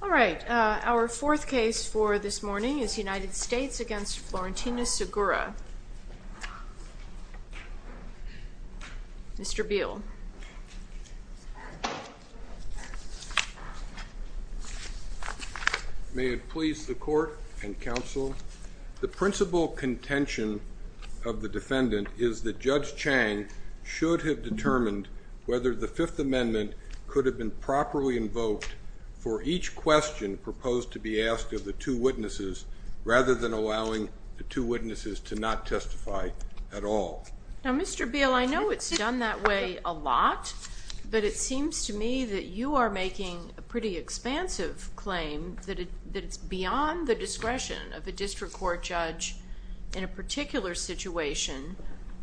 All right, our fourth case for this morning is United States v. Florentina Segura. Mr. Beal. May it please the court and counsel. The principal contention of the defendant is that Judge Chang should have determined whether the Fifth Amendment could have been properly invoked for each question proposed to be asked of the two witnesses rather than allowing the two witnesses to not testify at all. Now, Mr. Beal, I know it's done that way a lot, but it seems to me that you are making a pretty expansive claim that it's beyond the discretion of a district court judge in a particular situation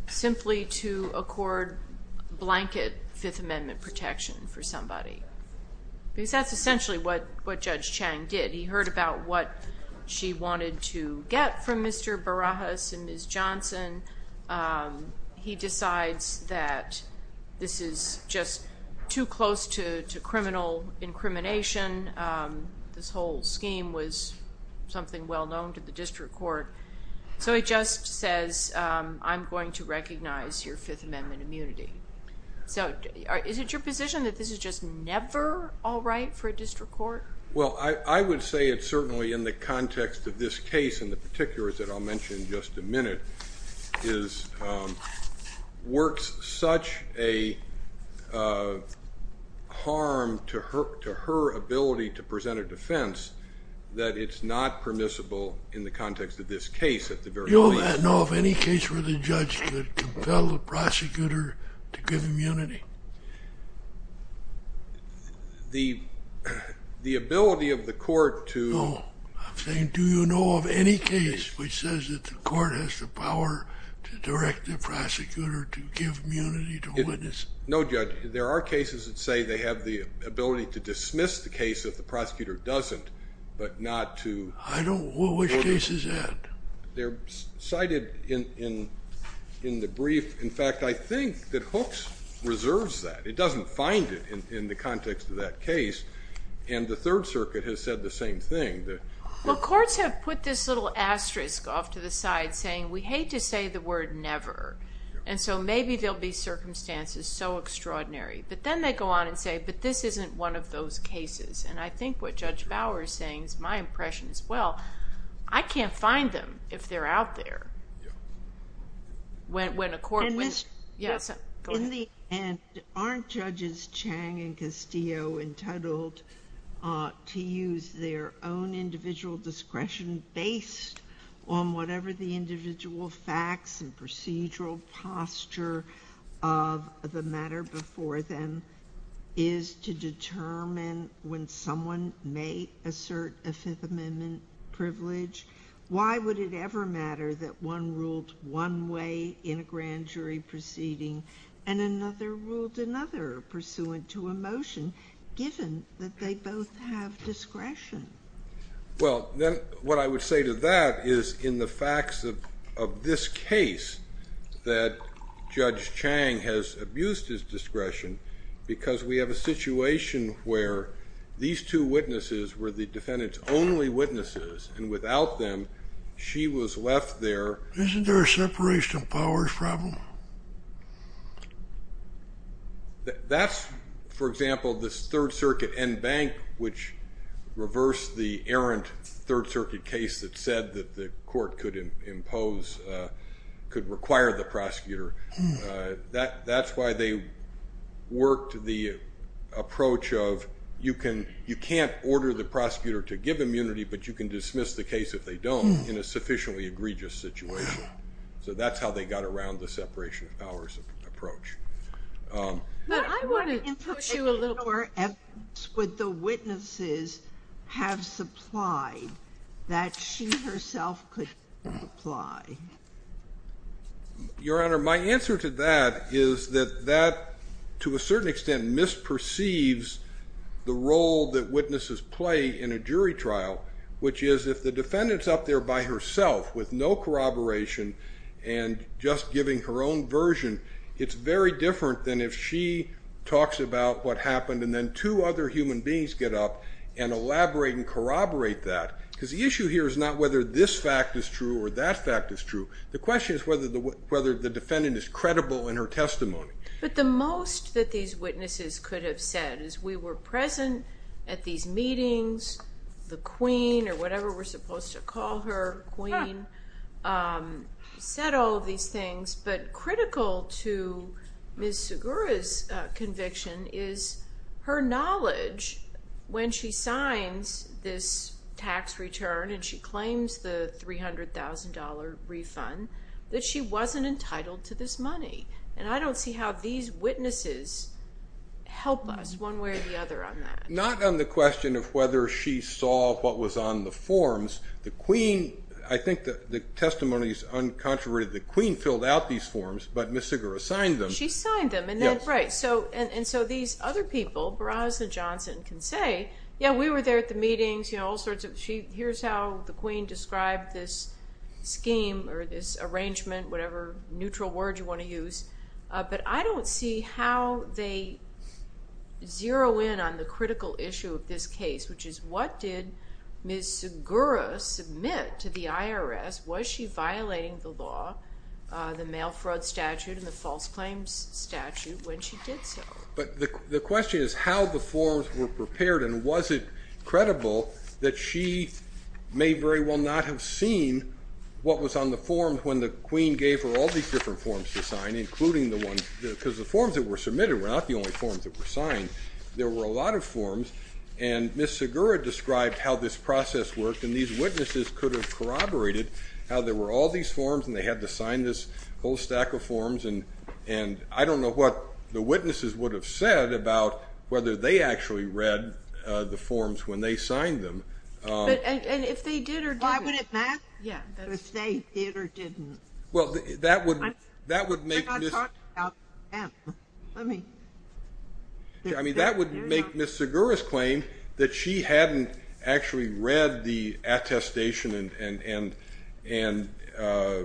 simply to accord blanket Fifth Amendment protection for somebody. Because that's essentially what Judge Chang did. He heard about what she wanted to get from Mr. Barajas and Ms. Johnson. He decides that this is just too close to criminal incrimination. This whole scheme was something well known to the district court. So he just says, I'm going to recognize your Fifth Amendment immunity. So is it your position that this is just never all right for a district court? Well, I would say it's certainly in the context of this case in the particular that I'll mention in just a minute, works such a harm to her ability to present a defense that it's not permissible in the context of this case at the very least. Do you know of any case where the judge could compel the prosecutor to give immunity? The ability of the court to... No. I'm saying do you know of any case which says that the court has the power to direct the prosecutor to give immunity to a witness? No, Judge. There are cases that say they have the ability to dismiss the case if the prosecutor doesn't, but not to... Which case is that? They're cited in the brief. In fact, I think that Hooks reserves that. It doesn't find it in the context of that case. And the Third Circuit has said the same thing. Well, courts have put this little asterisk off to the side saying we hate to say the word never. And so maybe there'll be cases, and I think what Judge Bauer is saying is my impression as well, I can't find them if they're out there. In the end, aren't Judges Chang and Castillo entitled to use their own individual discretion based on whatever the individual facts and procedural posture of the matter before them is to determine when someone may assert a Fifth Amendment privilege? Why would it ever matter that one ruled one way in a grand jury proceeding and another ruled another pursuant to a motion that they both have discretion? Well, what I would say to that is in the facts of this case that Judge Chang has abused his discretion because we have a situation where these two witnesses were the defendant's only witnesses, and without them she was left there. Isn't there a separation of powers problem? That's, for example, this Third Circuit en banc which reversed the errant Third Circuit case that said that the court could require the prosecutor. That's why they worked the approach of you can't order the prosecutor to give immunity, but you can dismiss the case if they don't in a sufficiently egregious situation. So that's how they got around the separation of powers approach. But I want to put you a little more evidence with the witnesses have supplied that she herself could apply. Your Honor, my answer to that is that that, to a certain extent, misperceives the role that witnesses play in a jury trial, which is if the defendant's up there by herself with no corroboration and just giving her own version, it's very different than if she talks about what happened and then two other human beings get up and elaborate and corroborate that. Because the issue here is not whether this fact is true or that fact is true. The question is whether the defendant is credible in her testimony. But the most that these witnesses could have said is we were present at these meetings, the Queen or whatever we're supposed to call her, Queen, said all these things. But critical to Ms. Segura's conviction is her knowledge when she signs this tax return and she claims the $300,000 refund that she wasn't entitled to this money. And I don't see how these witnesses help us one way or the other on that. Not on the question of whether she saw what was on the forms. I think the testimony is uncontroverted. The Queen filled out these forms, but Ms. Segura signed them. She signed them. And so these other people, Barazza and Johnson, can say, yeah, we were there at the meetings. Here's how the Queen described this scheme or this case, which is what did Ms. Segura submit to the IRS? Was she violating the law, the mail fraud statute and the false claims statute, when she did so? But the question is how the forms were prepared and was it credible that she may very well not have seen what was on the forms when the Queen gave her all these different forms to sign, because the forms that were submitted were not the only forms that were signed. There were a lot of forms and Ms. Segura described how this process worked and these witnesses could have corroborated how there were all these forms and they had to sign this whole stack of forms. And I don't know what the witnesses would have said about whether they actually read the forms when they signed them. And if they did or didn't? Why would it matter if they did or didn't? Well, that would make Ms. Segura's claim that she hadn't actually read the attestation and the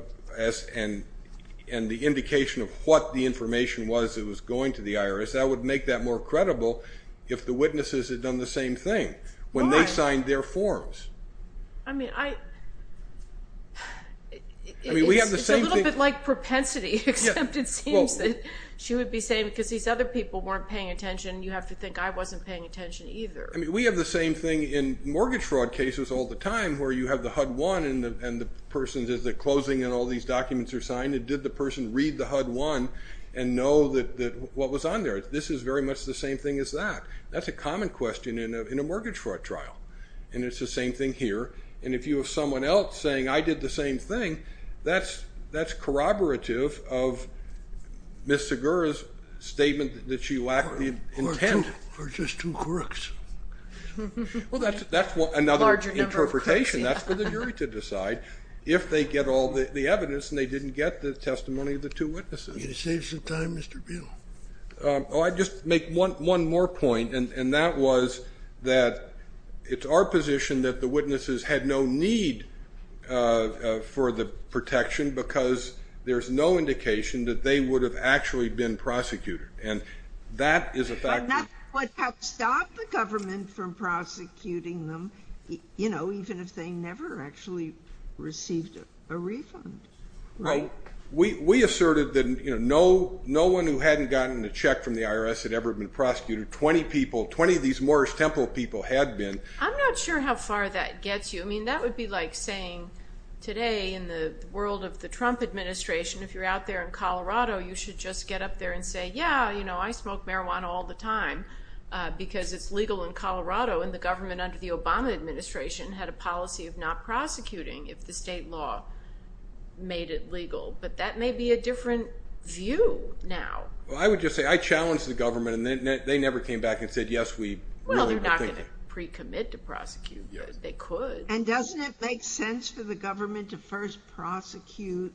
indication of what the information was that was going to the witnesses had done the same thing when they signed their forms. I mean, it's a little bit like propensity, except it seems that she would be saying, because these other people weren't paying attention, you have to think I wasn't paying attention either. I mean, we have the same thing in mortgage fraud cases all the time, where you have the HUD-1 and the person's closing and all these documents are signed. And did the person read the HUD-1 and know what was on there? This is very much the same thing as that. That's a common question in a mortgage fraud trial. And it's the same thing here. And if you have someone else saying, I did the same thing, that's corroborative of Ms. Segura's statement that she lacked the intent. Or just two crooks. Well, that's another interpretation. That's for the jury to decide, if they get all the evidence and they didn't get the testimony of the two witnesses. Can you save some time, Mr. Buol? Oh, I'd just make one more point, and that was that it's our position that the witnesses had no need for the protection because there's no indication that they would have actually been prosecuted. But nothing would have stopped the government from prosecuting them, even if they never actually received a refund. Right. We asserted that no one who hadn't gotten a check from the IRS had ever been prosecuted. Twenty of these Morris Temple people had been. I'm not sure how far that gets you. I mean, that would be like saying today in the world of the Trump administration, if you're out there in Colorado, you should just get up there and say, yeah, you know, I smoke marijuana all the time because it's legal in Colorado. And the government under the Obama administration had a policy of not prosecuting if the state law made it legal. But that may be a different view now. Well, I would just say I challenged the government, and they never came back and said, yes, we really think that. Well, they're not going to pre-commit to prosecute, but they could. And doesn't it make sense for the government to first prosecute,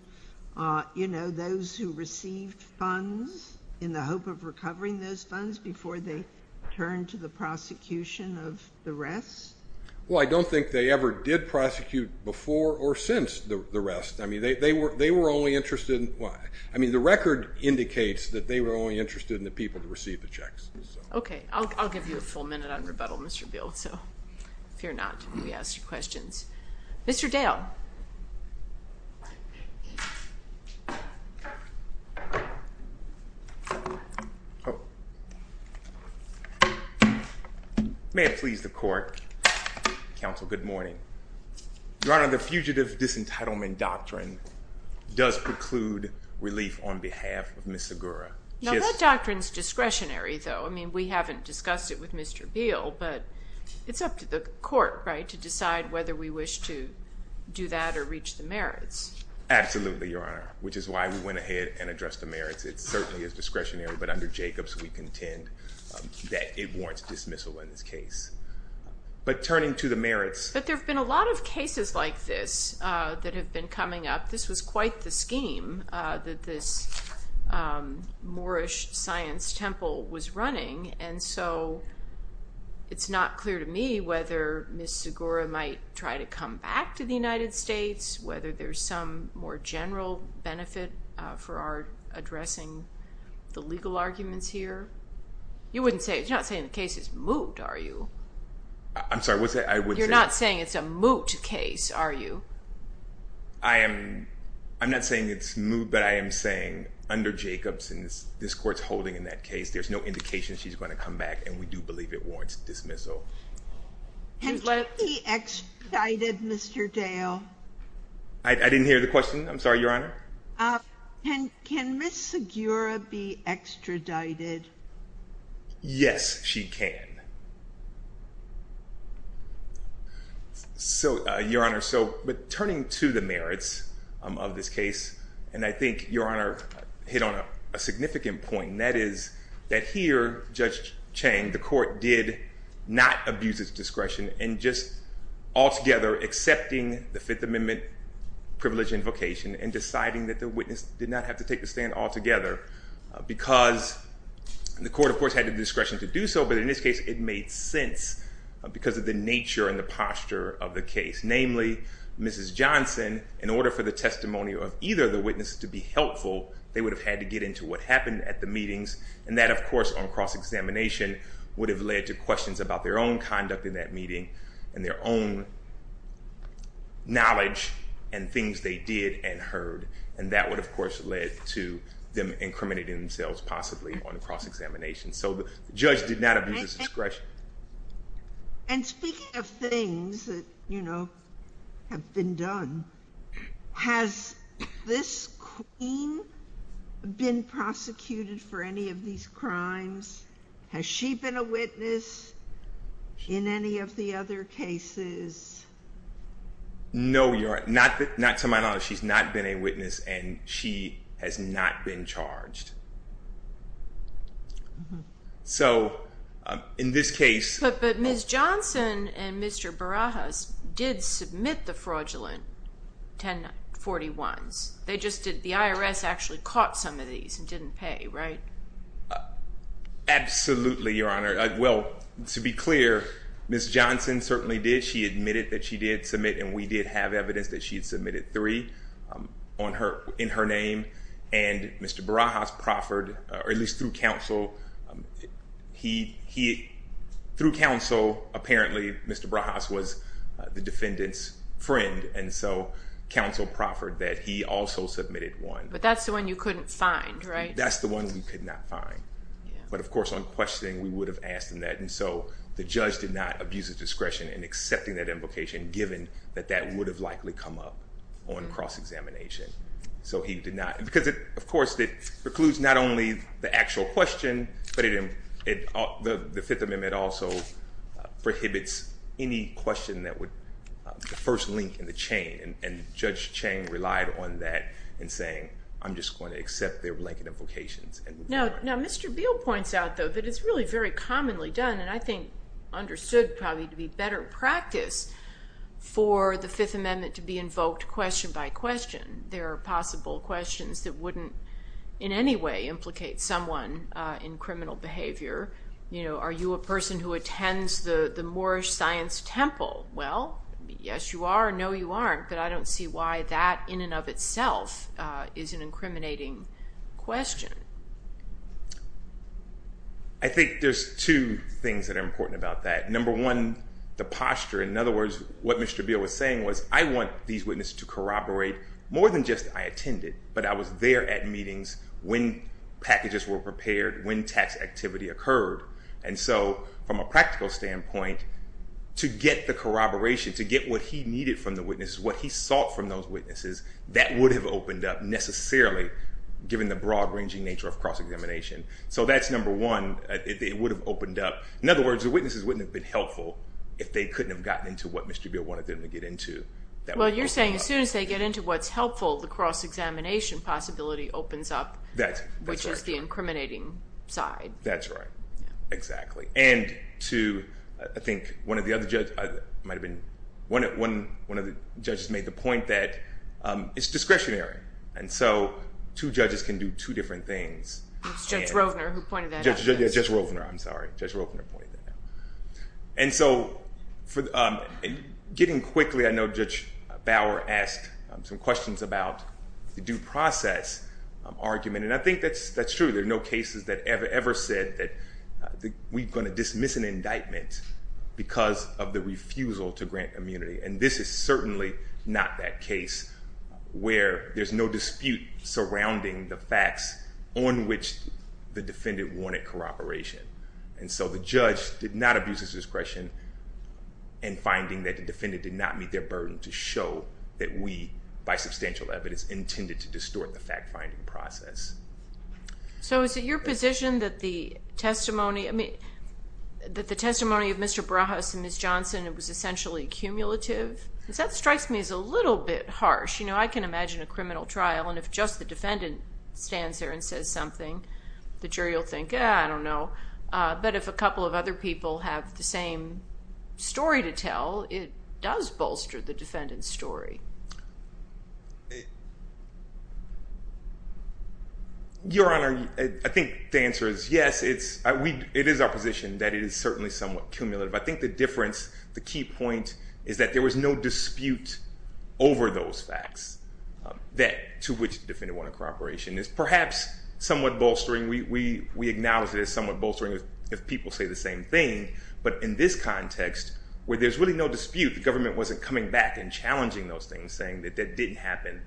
you know, those who received funds in the hope of recovering those funds before they turn to the prosecution of the rest? Well, I don't think they ever did prosecute before or since the rest. I mean, they were only interested in, I mean, the record indicates that they were only interested in the people to receive the checks. OK. I'll give you a full minute on rebuttal, Mr. Beal. So fear not. We ask your questions. Mr. Dale. May it please the court. Counsel, good morning. Your Honor, the Fugitive Disentitlement Doctrine does preclude relief on behalf of Miss Agoura. Now, that doctrine's discretionary, though. I mean, we haven't discussed it with Mr. Beal, but it's up to the court, right, to decide whether we wish to do that or reach the merits. Absolutely, Your Honor, which is why we went ahead and addressed the merits. It certainly is discretionary, but under Jacobs, we contend that it warrants dismissal in this case. But turning to the merits. But there have been a lot of cases like this that have been coming up. This was quite the scheme that this Moorish science temple was running. And so it's not clear to me whether Miss Agoura might try to come back to the United States, whether there's some more general benefit for our addressing the legal arguments here. You wouldn't say, you're not saying the case is moot, are you? I'm sorry, what's that? You're not saying it's a moot case, are you? I'm not saying it's moot, but I am saying under Jacobs, and this court's holding in that case, there's no indication she's going to come back, and we do believe it warrants dismissal. Can she be extradited, Mr. Dale? I didn't hear the question. I'm sorry, Your Honor. Can Miss Agoura be extradited? Yes, she can. So, Your Honor, but turning to the merits of this case, and I think, Your Honor, hit on a significant point, and that is that here, Judge Chang, the court did not abuse its discretion in just altogether accepting the Fifth Amendment privilege and vocation and deciding that the witness did not have to take the stand altogether because the court, of course, had the discretion to do so, but in this case, it made sense because of the nature and the posture of the case. Namely, Mrs. Johnson, in order for the testimony of either of the witnesses to be helpful, they would have had to get into what happened at the meetings, and that, of course, on cross-examination would have led to questions about their own conduct in that meeting and their own knowledge and things they did and heard, and that would, of course, led to them incriminating themselves, possibly, on cross-examination. So the judge did not abuse his discretion. And speaking of things that, you know, have been done, has this queen been prosecuted for any of these crimes? Has she been a witness in any of the other cases? No, Your Honor. Not to my knowledge. She's not been a witness, and she has not been charged. So in this case... But Ms. Johnson and Mr. Barajas did submit the fraudulent 1041s. They just did. The IRS actually caught some of these and didn't pay, right? Absolutely, Your Honor. Well, to be clear, Ms. Johnson certainly did. She admitted that she did submit, and we did have evidence that she had submitted three in her name, and Mr. Barajas proffered, or at least through counsel, through counsel, apparently Mr. Barajas was the defendant's friend, and so counsel proffered that he also submitted one. But that's the one you couldn't find, right? That's the one we could not find. But, of course, on questioning, we would have asked him that, and so the judge did not abuse his discretion in accepting that invocation, given that that would have likely come up on cross-examination. So he did not. Because, of course, it precludes not only the actual question, but the Fifth Amendment also prohibits any question that would first link in the chain, and Judge Chang relied on that in saying, I'm just going to accept their blanket invocations. Now, Mr. Beal points out, though, that it's really very commonly done, and I think understood probably to be better practice for the Fifth Amendment to be invoked question by question. There are possible questions that wouldn't in any way implicate someone in criminal behavior. You know, are you a person who attends the Moorish Science Temple? Well, yes you are, no you aren't, but I don't see why that in and of itself is an incriminating question. I think there's two things that are important about that. Number one, the posture. In other words, what Mr. Beal was saying was, I want these witnesses to corroborate more than just I attended, but I was there at meetings when packages were prepared, when tax activity occurred. And so from a practical standpoint, to get the corroboration, to get what he needed from the witnesses, what he sought from those witnesses, that would have opened up necessarily, given the broad-ranging nature of cross-examination. So that's number one, it would have opened up. In other words, the witnesses wouldn't have been helpful if they couldn't have gotten into what Mr. Beal wanted them to get into. Well, you're saying as soon as they get into what's helpful, the cross-examination possibility opens up, which is the incriminating side. That's right, exactly. And I think one of the judges made the point that it's discretionary, and so two judges can do two different things. It's Judge Rovner who pointed that out. Judge Rovner, I'm sorry. Judge Rovner pointed that out. And so getting quickly, I know Judge Bauer asked some questions about the due process argument, and I think that's true. There are no cases that ever said that we're going to dismiss an indictment because of the refusal to grant immunity, and this is certainly not that case where there's no dispute surrounding the facts on which the defendant wanted corroboration. And so the judge did not abuse his discretion in finding that the defendant did not meet their burden to show that we, by substantial evidence, intended to distort the fact-finding process. So is it your position that the testimony of Mr. Barajas and Ms. Johnson was essentially cumulative? Because that strikes me as a little bit harsh. You know, I can imagine a criminal trial, and if just the defendant stands there and says something, the jury will think, I don't know. But if a couple of other people have the same story to tell, it does bolster the defendant's story. Your Honor, I think the answer is yes. It is our position that it is certainly somewhat cumulative. I think the difference, the key point, is that there was no dispute over those facts to which the defendant wanted corroboration. It's perhaps somewhat bolstering. We acknowledge that it's somewhat bolstering if people say the same thing, but in this context where there's really no dispute, the government wasn't coming back and challenging those things, saying that that didn't happen.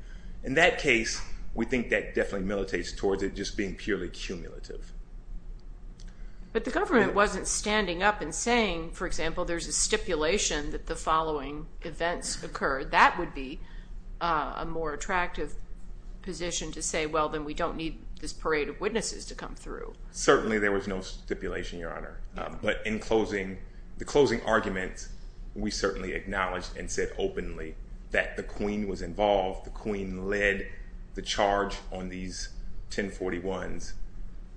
In that case, we think that definitely militates towards it just being purely cumulative. But the government wasn't standing up and saying, for example, there's a stipulation that the following events occurred. That would be a more attractive position to say, well, then we don't need this parade of witnesses to come through. Certainly there was no stipulation, Your Honor. But in closing, the closing argument, we certainly acknowledged and said openly that the Queen was involved. The Queen led the charge on these 1041s,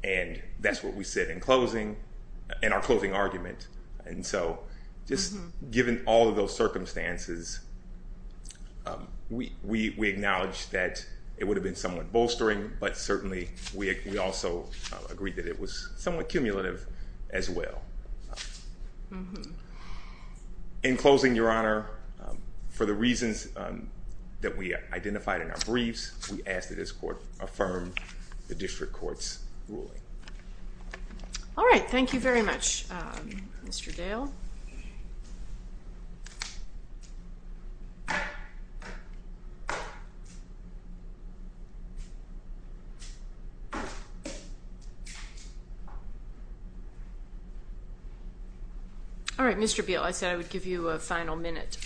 and that's what we said in closing, in our closing argument. And so just given all of those circumstances, we acknowledge that it would have been somewhat bolstering, but certainly we also agreed that it was somewhat cumulative as well. In closing, Your Honor, for the reasons that we identified in our briefs, we ask that this court affirm the district court's ruling. All right. All right, Mr. Beal, I said I would give you a final minute.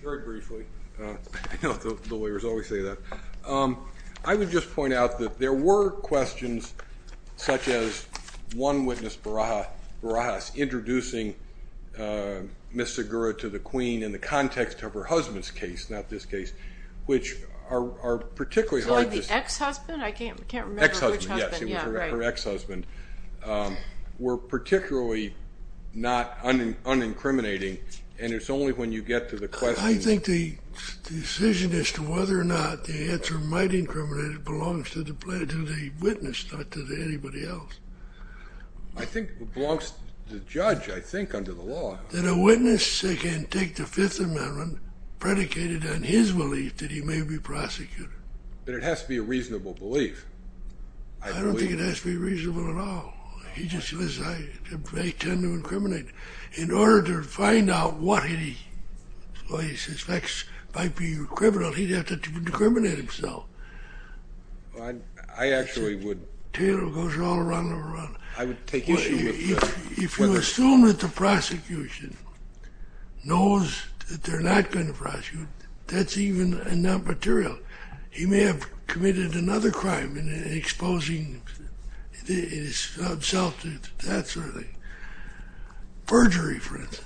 Very briefly. I know the lawyers always say that. I would just point out that there were questions such as one witness, Barajas, introducing Ms. Segura to the Queen in the context of her husband's case, not this case, which are particularly hard to see. The ex-husband? I can't remember which husband. Ex-husband, yes. Her ex-husband. We're particularly not unincriminating, and it's only when you get to the question. I think the decision as to whether or not the answer might incriminate it belongs to the witness, not to anybody else. I think it belongs to the judge, I think, under the law. Then a witness can take the Fifth Amendment predicated on his belief that he may be prosecuted. But it has to be a reasonable belief. I don't think it has to be reasonable at all. He just says I tend to incriminate. In order to find out what he suspects might be criminal, he'd have to incriminate himself. I actually would. The tale goes all around and around. I would take issue with that. If you assume that the prosecution knows that they're not going to prosecute, that's even not material. He may have committed another crime in exposing himself to that sort of thing, perjury, for instance.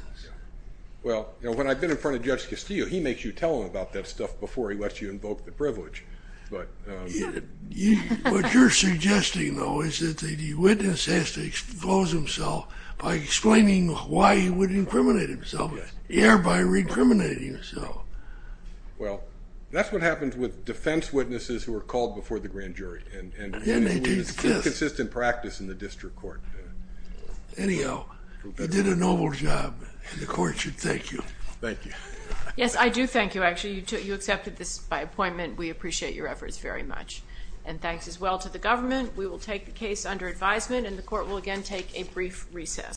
Well, when I've been in front of Judge Castillo, he makes you tell him about that stuff before he lets you invoke the privilege. What you're suggesting, though, is that the witness has to expose himself by explaining why he would incriminate himself, thereby re-incriminating himself. Well, that's what happens with defense witnesses who are called before the grand jury and inconsistent practice in the district court. Anyhow, you did a noble job, and the court should thank you. Thank you. Yes, I do thank you, actually. You accepted this by appointment. We appreciate your efforts very much. And thanks as well to the government. We will take the case under advisement, and the court will again take a brief recess.